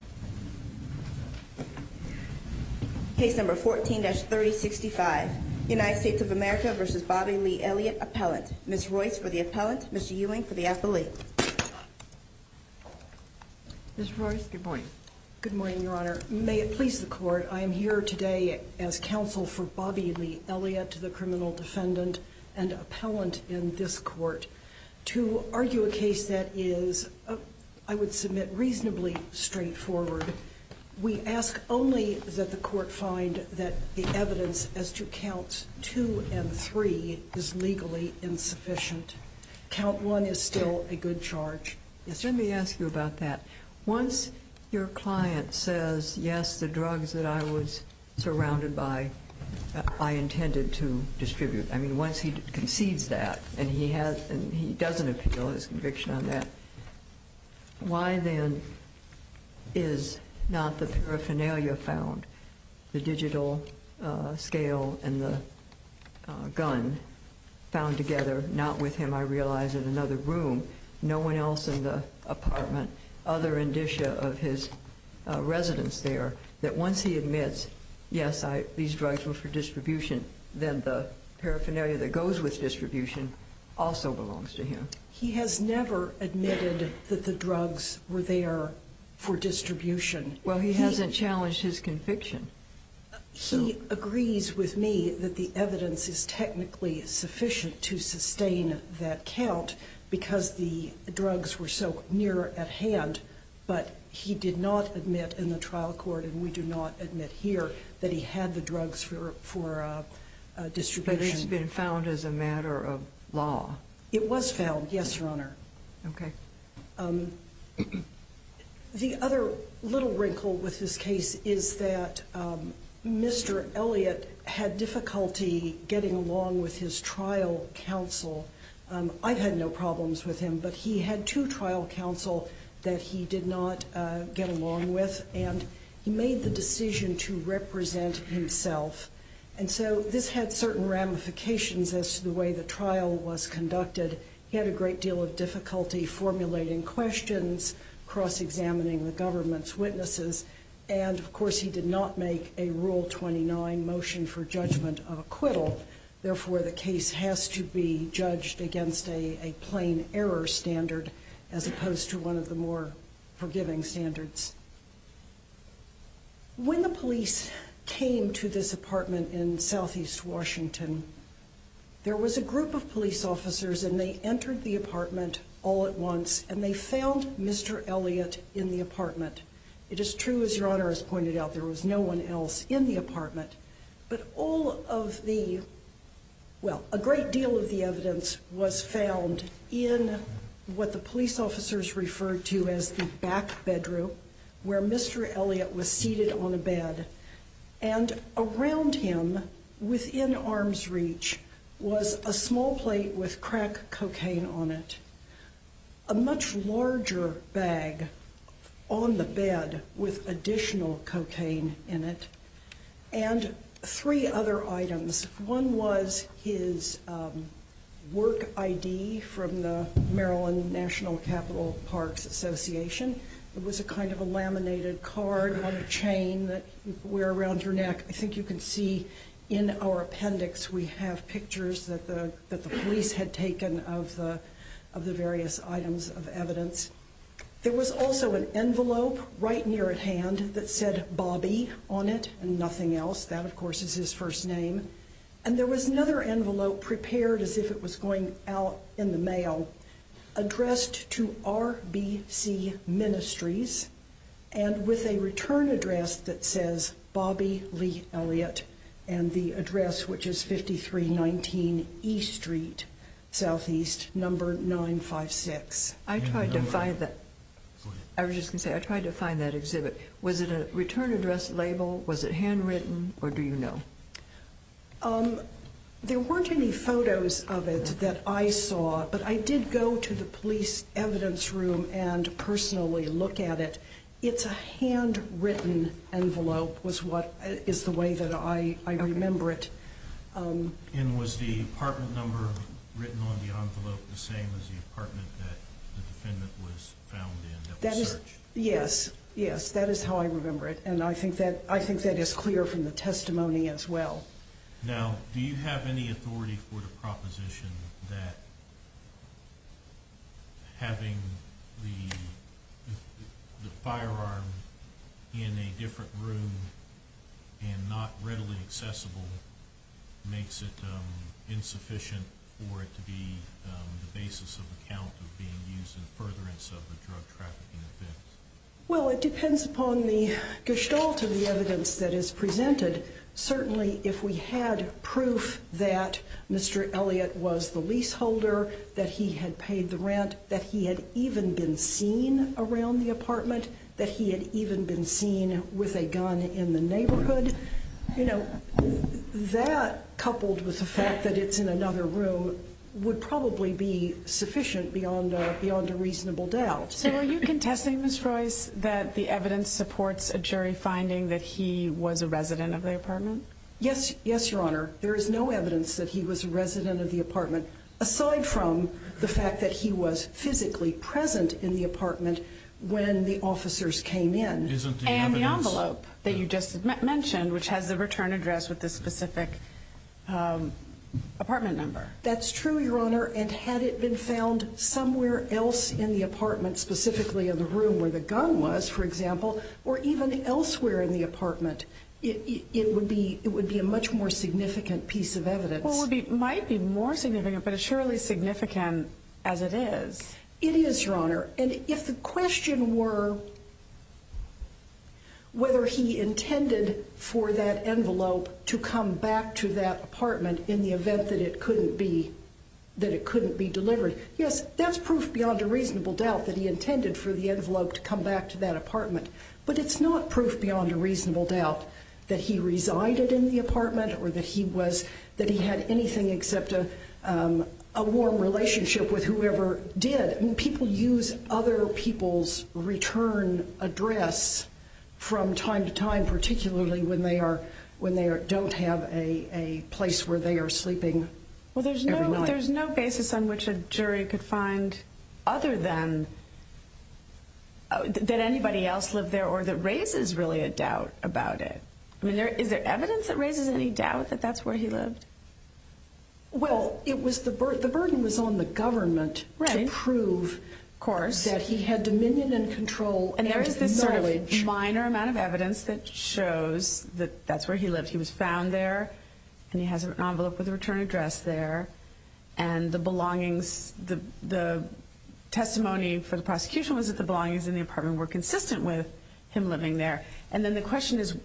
Appellant, Ms. Royce for the Appellant, Mr. Ewing for the Affiliate. Ms. Royce, good morning. Good morning, Your Honor. May it please the Court, I am here today as Counsel for Bobby Lee Elliott, the Criminal Defendant and Appellant in this Court, to argue a case that is, I would submit, reasonably straightforward. We ask only that the Court find that the evidence as to Counts 2 and 3 is legally insufficient. Count 1 is still a good charge. Let me ask you about that. Once your client says, yes, the drugs that I was surrounded by, I intended to distribute, I mean, once he concedes that and he doesn't appeal his conviction on that, why then is not the paraphernalia found, the digital scale and the gun, found together, not with him, I realize, in another room? No one else in the apartment, other indicia of his residence there, that once he admits, yes, these drugs were for distribution, then the paraphernalia that goes with distribution also belongs to him. He has never admitted that the drugs were there for distribution. Well, he hasn't challenged his conviction. He agrees with me that the evidence is technically sufficient to sustain that count because the drugs were so near at hand, but he did not admit in the trial court, and we do not admit here, that he had the drugs for distribution. But it's been found as a matter of law. It was found, yes, Your Honor. Okay. The other little wrinkle with this case is that Mr. Elliott had difficulty getting along with his trial counsel. I've had no problems with him, but he had two trial counsel that he did not get along with, and he made the decision to represent himself. And so this had certain ramifications as to the way the trial was conducted. He had a great deal of difficulty formulating questions, cross-examining the government's witnesses, and, of course, he did not make a Rule 29 motion for judgment of acquittal. Therefore, the case has to be judged against a plain error standard as opposed to one of the more forgiving standards. When the police came to this apartment in southeast Washington, there was a group of police officers, and they entered the apartment all at once, and they found Mr. Elliott in the apartment. It is true, as Your Honor has pointed out, there was no one else in the apartment. But all of the – well, a great deal of the evidence was found in what the police officers referred to as the back bedroom, where Mr. Elliott was seated on a bed. And around him, within arm's reach, was a small plate with crack cocaine on it, a much larger bag on the bed with additional cocaine in it, and three other items. One was his work ID from the Maryland National Capital Parks Association. It was a kind of a laminated card on a chain that you wear around your neck. I think you can see in our appendix we have pictures that the police had taken of the various items of evidence. There was also an envelope right near at hand that said Bobby on it and nothing else. That, of course, is his first name. And there was another envelope prepared as if it was going out in the mail addressed to RBC Ministries and with a return address that says Bobby Lee Elliott, and the address, which is 5319 E Street, Southeast, number 956. I tried to find that. I was just going to say I tried to find that exhibit. Was it a return address label? Was it handwritten? Or do you know? There weren't any photos of it that I saw, but I did go to the police evidence room and personally look at it. It's a handwritten envelope is the way that I remember it. And was the apartment number written on the envelope the same as the apartment that the defendant was found in that was searched? Yes. Yes, that is how I remember it, and I think that is clear from the testimony as well. Now, do you have any authority for the proposition that having the firearm in a different room and not readily accessible makes it insufficient for it to be the basis of account of being used in furtherance of a drug trafficking offense? Well, it depends upon the gestalt of the evidence that is presented. Certainly, if we had proof that Mr. Elliott was the leaseholder, that he had paid the rent, that he had even been seen around the apartment, that he had even been seen with a gun in the neighborhood, you know, that coupled with the fact that it's in another room would probably be sufficient beyond a reasonable doubt. So are you contesting, Ms. Royce, that the evidence supports a jury finding that he was a resident of the apartment? Yes, yes, Your Honor. There is no evidence that he was a resident of the apartment, aside from the fact that he was physically present in the apartment when the officers came in. And the envelope that you just mentioned, which has the return address with the specific apartment number. That's true, Your Honor. And had it been found somewhere else in the apartment, specifically in the room where the gun was, for example, or even elsewhere in the apartment, it would be a much more significant piece of evidence. Well, it might be more significant, but it's surely as significant as it is. It is, Your Honor. And if the question were whether he intended for that envelope to come back to that apartment in the event that it couldn't be delivered, yes, that's proof beyond a reasonable doubt that he intended for the envelope to come back to that apartment. But it's not proof beyond a reasonable doubt that he resided in the apartment or that he had anything except a warm relationship with whoever did. I mean, people use other people's return address from time to time, particularly when they don't have a place where they are sleeping every night. Well, there's no basis on which a jury could find other than that anybody else lived there or that raises really a doubt about it. I mean, is there evidence that raises any doubt that that's where he lived? Well, the burden was on the government to prove that he had dominion and control and knowledge. And there is this sort of minor amount of evidence that shows that that's where he lived. He was found there, and he has an envelope with a return address there. And the belongings, the testimony for the prosecution was that the belongings in the apartment were consistent with him living there. And then the question is,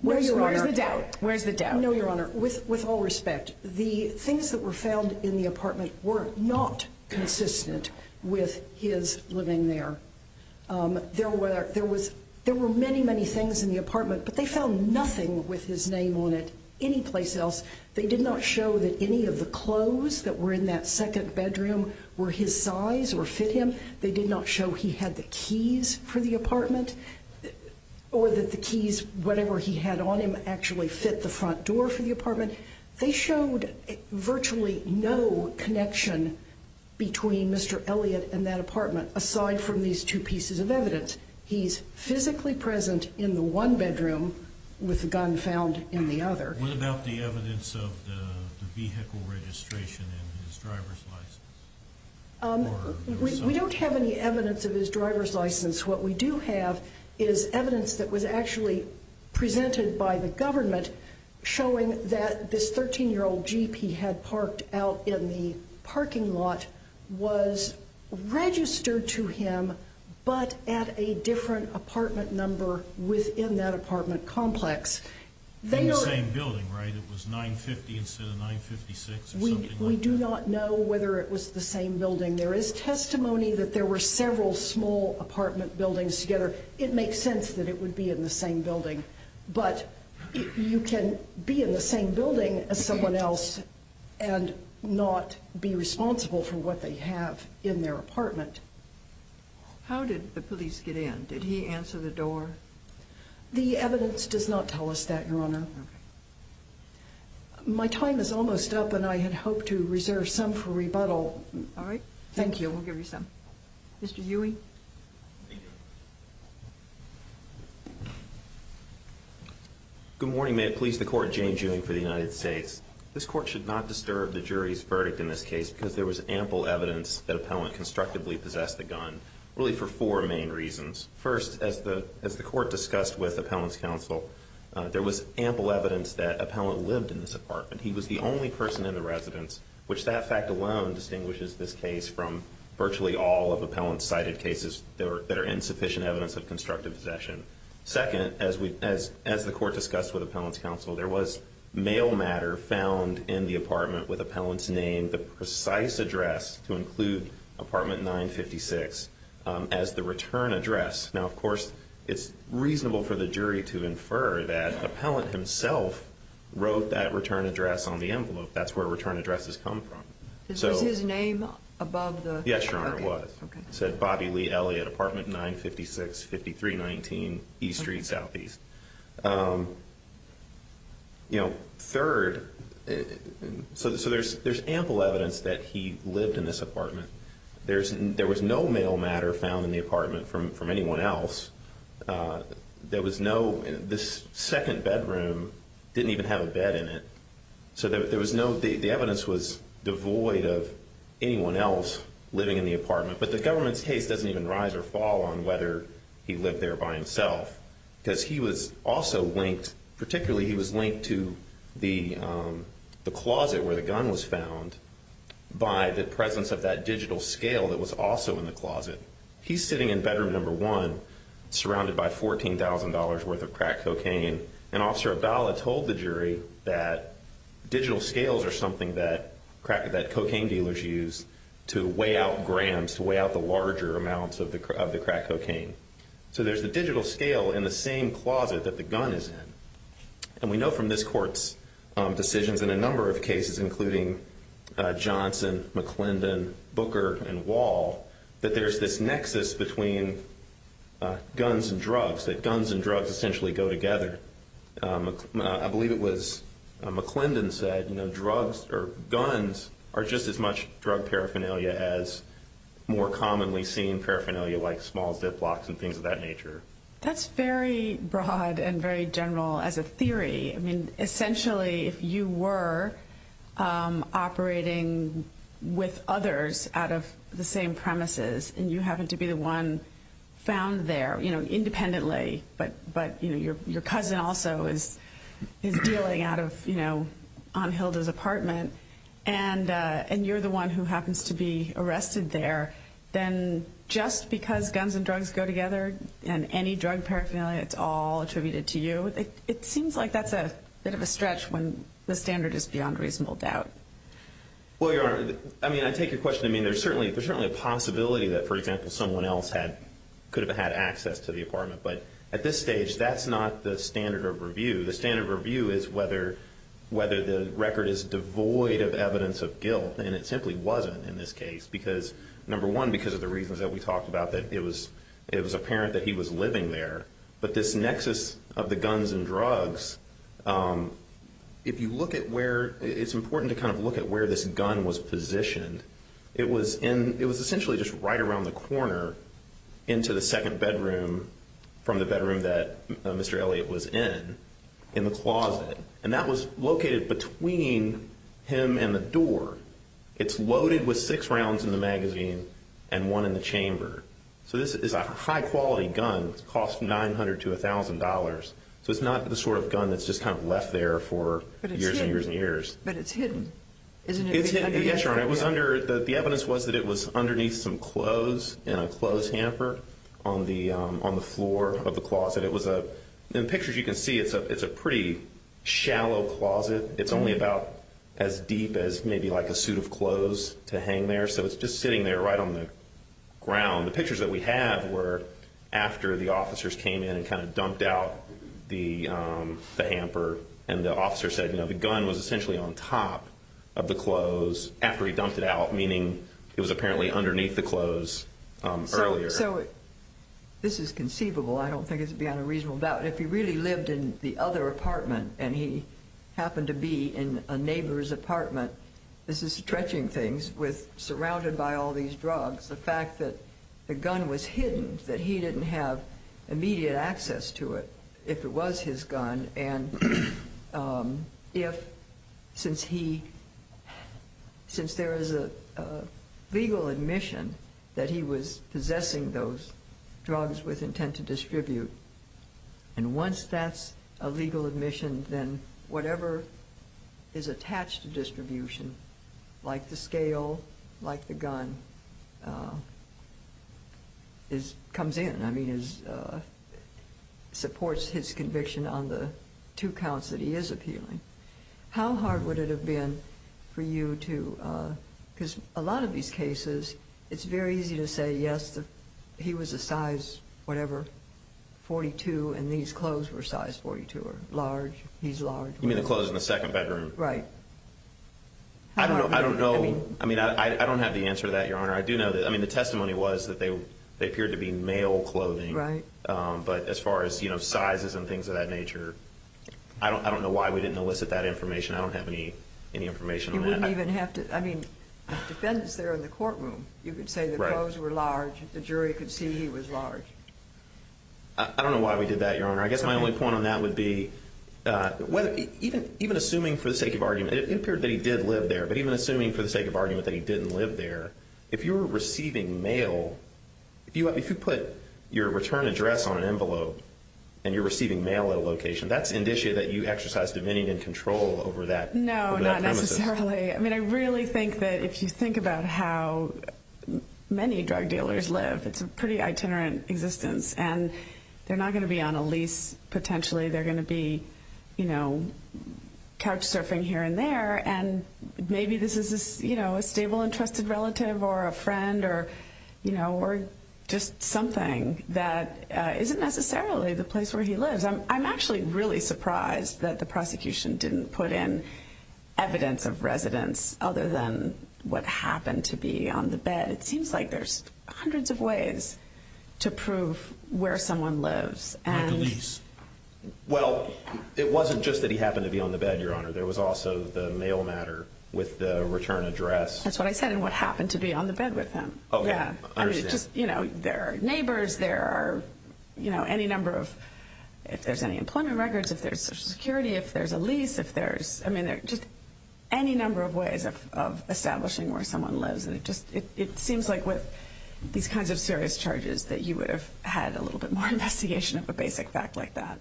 where's the doubt? Where's the doubt? No, Your Honor. With all respect, the things that were found in the apartment were not consistent with his living there. There were many, many things in the apartment, but they found nothing with his name on it anyplace else. They did not show that any of the clothes that were in that second bedroom were his size or fit him. They did not show he had the keys for the apartment or that the keys, whatever he had on him, actually fit the front door for the apartment. They showed virtually no connection between Mr. Elliott and that apartment, aside from these two pieces of evidence. He's physically present in the one bedroom with a gun found in the other. What about the evidence of the vehicle registration and his driver's license? We don't have any evidence of his driver's license. What we do have is evidence that was actually presented by the government showing that this 13-year-old jeep he had parked out in the parking lot was registered to him but at a different apartment number within that apartment complex. In the same building, right? It was 950 instead of 956 or something like that? We do not know whether it was the same building. There is testimony that there were several small apartment buildings together. It makes sense that it would be in the same building. But you can be in the same building as someone else and not be responsible for what they have in their apartment. How did the police get in? Did he answer the door? The evidence does not tell us that, Your Honor. My time is almost up and I had hoped to reserve some for rebuttal. All right. Thank you. We'll give you some. Mr. Ewing? Good morning. May it please the Court, Jane Ewing for the United States. This Court should not disturb the jury's verdict in this case because there was ample evidence that Appellant constructively possessed the gun, really for four main reasons. First, as the Court discussed with Appellant's counsel, there was ample evidence that Appellant lived in this apartment. He was the only person in the residence, which that fact alone distinguishes this case from virtually all of Appellant's cited cases that are insufficient evidence of constructive possession. Second, as the Court discussed with Appellant's counsel, there was mail matter found in the apartment with Appellant's name, the precise address to include apartment 956 as the return address. Now, of course, it's reasonable for the jury to infer that Appellant himself wrote that return address on the envelope. That's where return addresses come from. Is his name above the? Yes, Your Honor, it was. Okay. It said Bobby Lee Elliott, apartment 956, 5319 East Street, Southeast. You know, third, so there's ample evidence that he lived in this apartment. There was no mail matter found in the apartment from anyone else. There was no, this second bedroom didn't even have a bed in it. So there was no, the evidence was devoid of anyone else living in the apartment. But the government's case doesn't even rise or fall on whether he lived there by himself because he was also linked, particularly he was linked to the closet where the gun was found by the presence of that digital scale that was also in the closet. He's sitting in bedroom number one, surrounded by $14,000 worth of crack cocaine, and Officer Appellant told the jury that digital scales are something that cocaine dealers use to weigh out grams, to weigh out the larger amounts of the crack cocaine. So there's a digital scale in the same closet that the gun is in. And we know from this court's decisions in a number of cases, including Johnson, McClendon, Booker, and Wall, that there's this nexus between guns and drugs, that guns and drugs essentially go together. I believe it was McClendon said, you know, drugs or guns are just as much drug paraphernalia as more commonly seen paraphernalia like small ziplocks and things of that nature. That's very broad and very general as a theory. I mean, essentially, if you were operating with others out of the same premises and you happen to be the one found there, you know, independently, but your cousin also is dealing out of, you know, on Hilda's apartment, and you're the one who happens to be arrested there, then just because guns and drugs go together and any drug paraphernalia, it's all attributed to you, it seems like that's a bit of a stretch when the standard is beyond reasonable doubt. Well, Your Honor, I mean, I take your question. I mean, there's certainly a possibility that, for example, someone else could have had access to the apartment. But at this stage, that's not the standard of review. The standard of review is whether the record is devoid of evidence of guilt, and it simply wasn't in this case because, number one, because of the reasons that we talked about that it was apparent that he was living there. But this nexus of the guns and drugs, if you look at where it's important to kind of look at where this gun was positioned, it was essentially just right around the corner into the second bedroom from the bedroom that Mr. Elliott was in, in the closet. And that was located between him and the door. It's loaded with six rounds in the magazine and one in the chamber. So this is a high-quality gun. It costs $900 to $1,000. So it's not the sort of gun that's just kind of left there for years and years and years. But it's hidden, isn't it? Yes, Your Honor. The evidence was that it was underneath some clothes in a clothes hamper on the floor of the closet. In the pictures you can see, it's a pretty shallow closet. It's only about as deep as maybe like a suit of clothes to hang there. So it's just sitting there right on the ground. The pictures that we have were after the officers came in and kind of dumped out the hamper. And the officer said, you know, the gun was essentially on top of the clothes after he dumped it out, meaning it was apparently underneath the clothes earlier. So this is conceivable. I don't think it's beyond a reasonable doubt. If he really lived in the other apartment and he happened to be in a neighbor's apartment, this is stretching things with surrounded by all these drugs, the fact that the gun was hidden, that he didn't have immediate access to it if it was his gun. And since there is a legal admission that he was possessing those drugs with intent to distribute, and once that's a legal admission, then whatever is attached to distribution, like the scale, like the gun, comes in. I mean, it supports his conviction on the two counts that he is appealing. How hard would it have been for you to, because a lot of these cases, it's very easy to say, yes, he was a size whatever, 42, and these clothes were size 42 or large, he's large. You mean the clothes in the second bedroom? Right. I don't know. I mean, I don't have the answer to that, Your Honor. I do know that, I mean, the testimony was that they appeared to be male clothing. Right. But as far as, you know, sizes and things of that nature, I don't know why we didn't elicit that information. I don't have any information on that. You wouldn't even have to, I mean, the defendants there in the courtroom, you could say the clothes were large, the jury could see he was large. I don't know why we did that, Your Honor. I guess my only point on that would be, even assuming for the sake of argument, it appeared that he did live there, but even assuming for the sake of argument that he didn't live there, if you were receiving mail, if you put your return address on an envelope and you're receiving mail at a location, that's indicia that you exercise dominion and control over that premises. No, not necessarily. I mean, I really think that if you think about how many drug dealers live, it's a pretty itinerant existence, and they're not going to be on a lease, potentially. They're going to be, you know, couch surfing here and there, and maybe this is, you know, a stable and trusted relative or a friend or, you know, or just something that isn't necessarily the place where he lives. I'm actually really surprised that the prosecution didn't put in evidence of residence other than what happened to be on the bed. It seems like there's hundreds of ways to prove where someone lives. Like a lease. Well, it wasn't just that he happened to be on the bed, Your Honor. There was also the mail matter with the return address. That's what I said, and what happened to be on the bed with him. Okay, I understand. Yeah, I mean, just, you know, there are neighbors, there are, you know, any number of, if there's any employment records, if there's Social Security, if there's a lease, if there's, I mean, there are just any number of ways of establishing where someone lives, and it just, it seems like with these kinds of serious charges that you would have had a little bit more investigation of a basic fact like that.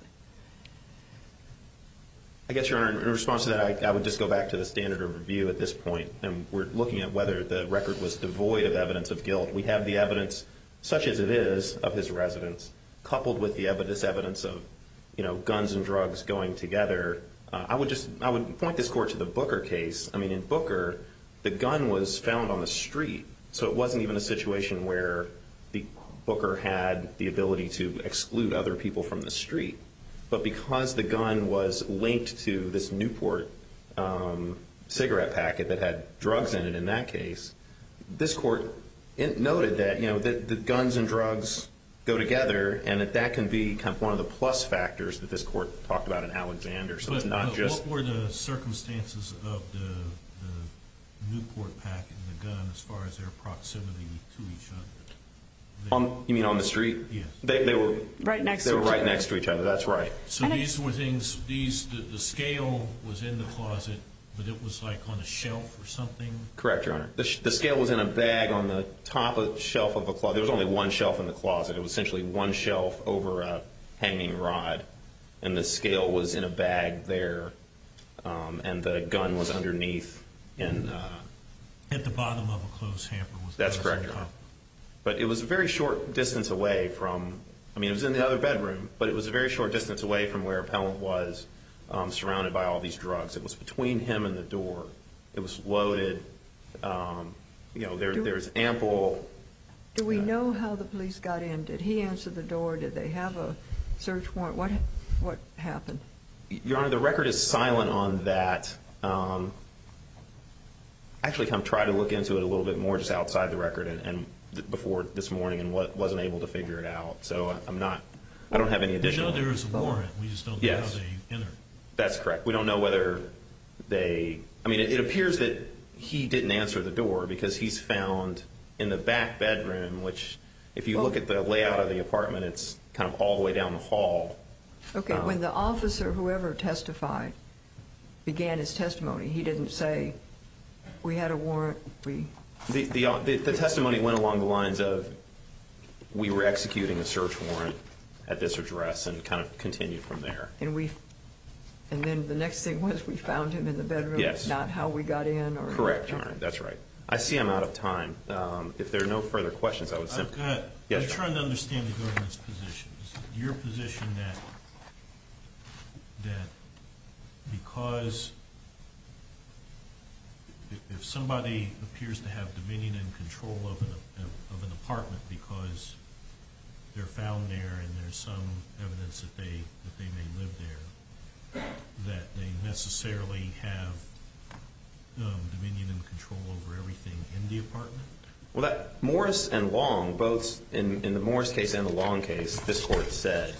I guess, Your Honor, in response to that, I would just go back to the standard of review at this point, and we're looking at whether the record was devoid of evidence of guilt. We have the evidence, such as it is, of his residence, coupled with the evidence, evidence of, you know, guns and drugs going together. I would just, I would point this court to the Booker case. I mean, in Booker, the gun was found on the street, so it wasn't even a situation where the Booker had the ability to exclude other people from the street. But because the gun was linked to this Newport cigarette packet that had drugs in it in that case, this court noted that, you know, that the guns and drugs go together, and that that can be kind of one of the plus factors that this court talked about in Alexander. But what were the circumstances of the Newport packet and the gun as far as their proximity to each other? You mean on the street? Yes. They were right next to each other, that's right. So these were things, the scale was in the closet, but it was like on a shelf or something? Correct, Your Honor. The scale was in a bag on the top shelf of a closet. There was only one shelf in the closet. It was essentially one shelf over a hanging rod, and the scale was in a bag there, and the gun was underneath. At the bottom of a clothes hanger. That's correct, Your Honor. But it was a very short distance away from, I mean, it was in the other bedroom, but it was a very short distance away from where Appellant was, surrounded by all these drugs. It was between him and the door. It was loaded. You know, there was ample. Do we know how the police got in? Did he answer the door? Did they have a search warrant? What happened? Your Honor, the record is silent on that. I actually kind of tried to look into it a little bit more just outside the record and before this morning and wasn't able to figure it out, so I'm not, I don't have any additional info. We know there was a warrant, we just don't know how they entered. That's correct. Because he's found in the back bedroom, which if you look at the layout of the apartment, it's kind of all the way down the hall. Okay. When the officer, whoever testified, began his testimony, he didn't say, we had a warrant. The testimony went along the lines of, we were executing a search warrant at this address and it kind of continued from there. And then the next thing was we found him in the bedroom. Yes. Not how we got in. Correct, Your Honor. That's right. I see I'm out of time. If there are no further questions, I would simply. I'm trying to understand the government's position. Is it your position that because if somebody appears to have dominion and control of an apartment because they're found there and there's some evidence that they may live there, that they necessarily have dominion and control over everything in the apartment? Well, Morris and Long, both in the Morris case and the Long case, this court said,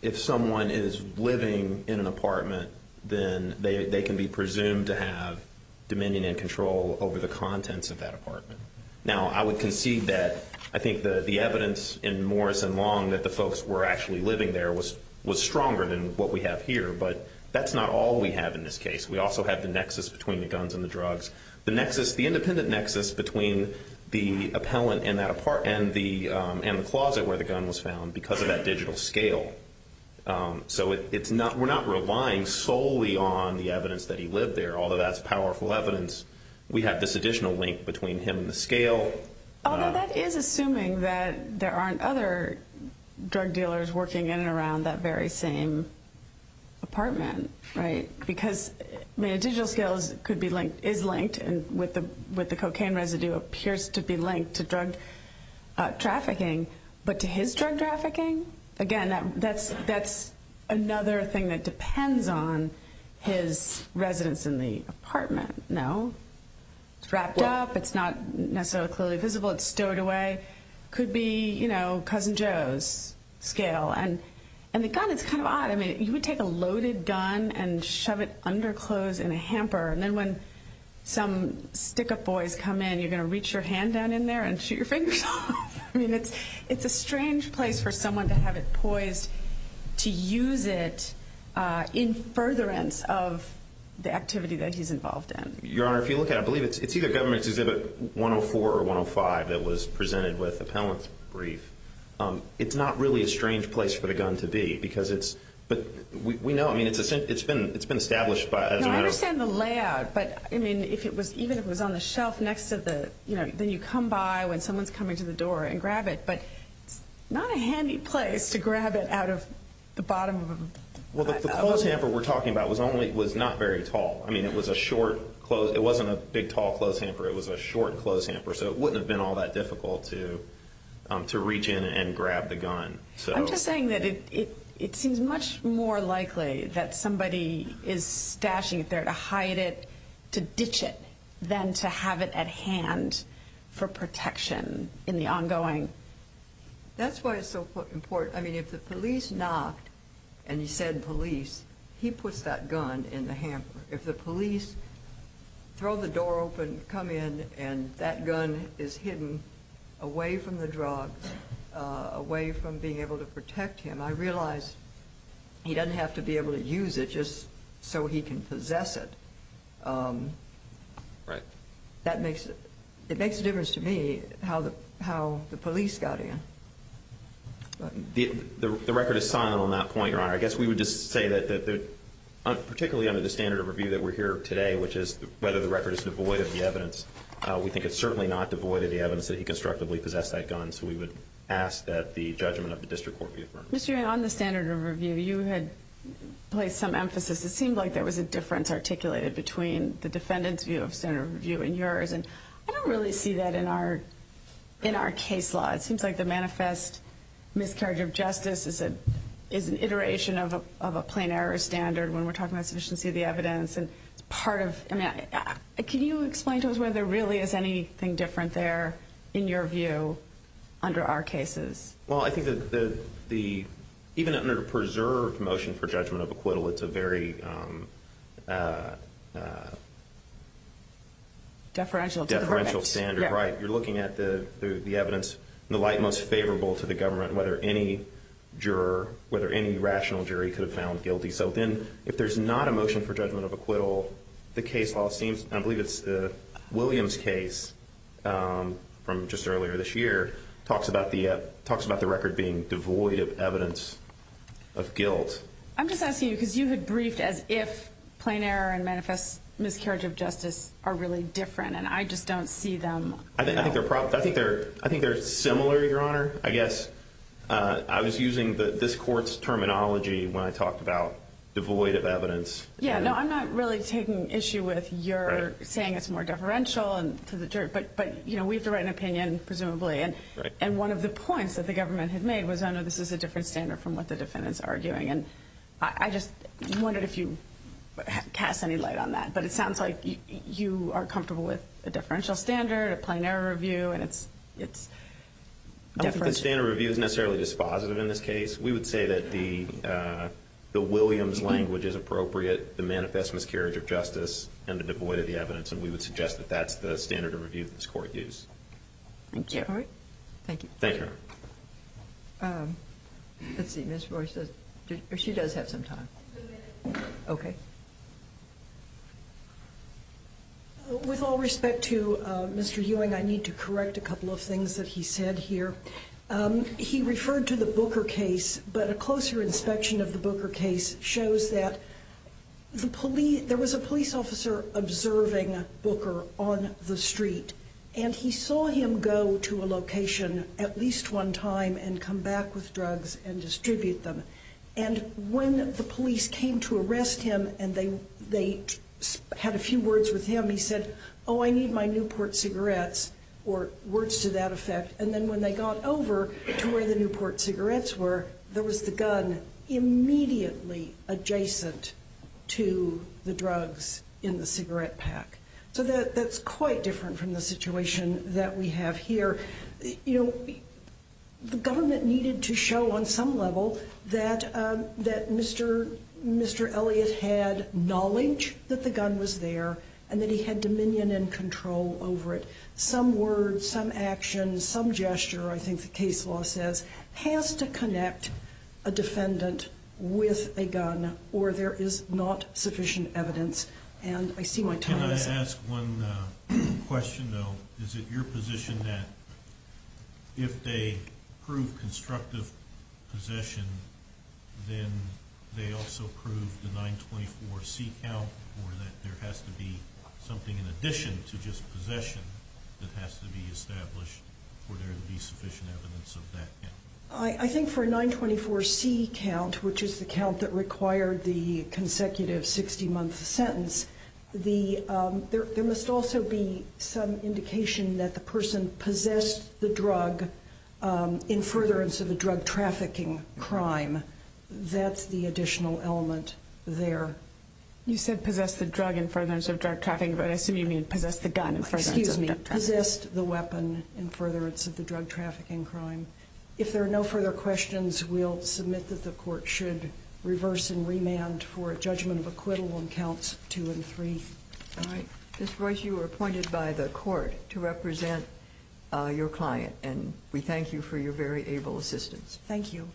if someone is living in an apartment, then they can be presumed to have dominion and control over the contents of that apartment. Now, I would concede that I think the evidence in Morris and Long that the folks were actually living there was stronger than what we have here, but that's not all we have in this case. We also have the nexus between the guns and the drugs, the independent nexus between the appellant and the closet where the gun was found because of that digital scale. So we're not relying solely on the evidence that he lived there, although that's powerful evidence. We have this additional link between him and the scale. Although that is assuming that there aren't other drug dealers working in and around that very same apartment, right? Because, I mean, a digital scale is linked and with the cocaine residue appears to be linked to drug trafficking, but to his drug trafficking? Again, that's another thing that depends on his residence in the apartment, no? It's wrapped up. It's not necessarily clearly visible. It's stowed away. Could be, you know, Cousin Joe's scale. And the gun is kind of odd. I mean, you would take a loaded gun and shove it under clothes in a hamper, and then when some stick-up boys come in, you're going to reach your hand down in there and shoot your fingers off. I mean, it's a strange place for someone to have it poised to use it in furtherance of the activity that he's involved in. Your Honor, if you look at it, I believe it's either Government's Exhibit 104 or 105 that was presented with the appellant's brief. It's not really a strange place for the gun to be because it's— but we know, I mean, it's been established by— I understand the layout, but, I mean, even if it was on the shelf next to the— then you come by when someone's coming to the door and grab it, but it's not a handy place to grab it out of the bottom of a— Well, the clothes hamper we're talking about was not very tall. I mean, it was a short—it wasn't a big, tall clothes hamper. It was a short clothes hamper, so it wouldn't have been all that difficult to reach in and grab the gun. I'm just saying that it seems much more likely that somebody is stashing it there to hide it, to ditch it, than to have it at hand for protection in the ongoing— That's why it's so important. I mean, if the police knocked and you said police, he puts that gun in the hamper. If the police throw the door open, come in, and that gun is hidden away from the drugs, away from being able to protect him, I realize he doesn't have to be able to use it just so he can possess it. Right. That makes—it makes a difference to me how the police got in. The record is silent on that point, Your Honor. I guess we would just say that particularly under the standard of review that we're here today, which is whether the record is devoid of the evidence, we think it's certainly not devoid of the evidence that he constructively possessed that gun, so we would ask that the judgment of the district court be affirmed. Mr. Ewing, on the standard of review, you had placed some emphasis. It seemed like there was a difference articulated between the defendant's view of standard of review and yours, and I don't really see that in our case law. It seems like the manifest miscarriage of justice is an iteration of a plain error standard when we're talking about sufficiency of the evidence, and it's part of— I mean, can you explain to us whether there really is anything different there in your view under our cases? Well, I think that the—even under the preserved motion for judgment of acquittal, it's a very— Deferential to the verbiage. You're looking at the evidence in the light most favorable to the government, whether any juror, whether any rational jury could have found guilty. So then if there's not a motion for judgment of acquittal, the case law seems— I believe it's the Williams case from just earlier this year, talks about the record being devoid of evidence of guilt. I'm just asking you because you had briefed as if plain error and manifest miscarriage of justice are really different, and I just don't see them— I think they're similar, Your Honor. I guess I was using this court's terminology when I talked about devoid of evidence. Yeah, no, I'm not really taking issue with your saying it's more deferential to the jury, but we have to write an opinion, presumably, and one of the points that the government had made was, I know this is a different standard from what the defendant's arguing, and I just wondered if you cast any light on that. But it sounds like you are comfortable with a differential standard, a plain error review, and it's deferential. I don't think the standard review is necessarily dispositive in this case. We would say that the Williams language is appropriate, the manifest miscarriage of justice, and the devoid of the evidence, and we would suggest that that's the standard of review that this court used. Thank you. All right. Thank you. Thank you, Your Honor. Let's see. Ms. Royce does—or she does have some time. Okay. With all respect to Mr. Ewing, I need to correct a couple of things that he said here. He referred to the Booker case, but a closer inspection of the Booker case shows that there was a police officer observing Booker on the street, and he saw him go to a location at least one time and come back with drugs and distribute them. And when the police came to arrest him and they had a few words with him, he said, oh, I need my Newport cigarettes, or words to that effect. And then when they got over to where the Newport cigarettes were, there was the gun immediately adjacent to the drugs in the cigarette pack. So that's quite different from the situation that we have here. You know, the government needed to show on some level that Mr. Elliott had knowledge that the gun was there and that he had dominion and control over it. Some words, some actions, some gesture, I think the case law says, has to connect a defendant with a gun or there is not sufficient evidence. And I see my time is up. Can I ask one question, though? Is it your position that if they prove constructive possession, then they also prove the 924C count, or that there has to be something in addition to just possession that has to be established for there to be sufficient evidence of that count? I think for a 924C count, which is the count that required the consecutive 60-month sentence, there must also be some indication that the person possessed the drug in furtherance of a drug-trafficking crime. That's the additional element there. You said possessed the drug in furtherance of drug-trafficking, but I assume you mean possessed the gun in furtherance of drug-trafficking. Excuse me. Possessed the weapon in furtherance of the drug-trafficking crime. If there are no further questions, we'll submit that the court should reverse and remand for a judgment of acquittal on counts 2 and 3. All right. Ms. Royce, you are appointed by the court to represent your client, and we thank you for your very able assistance. Thank you.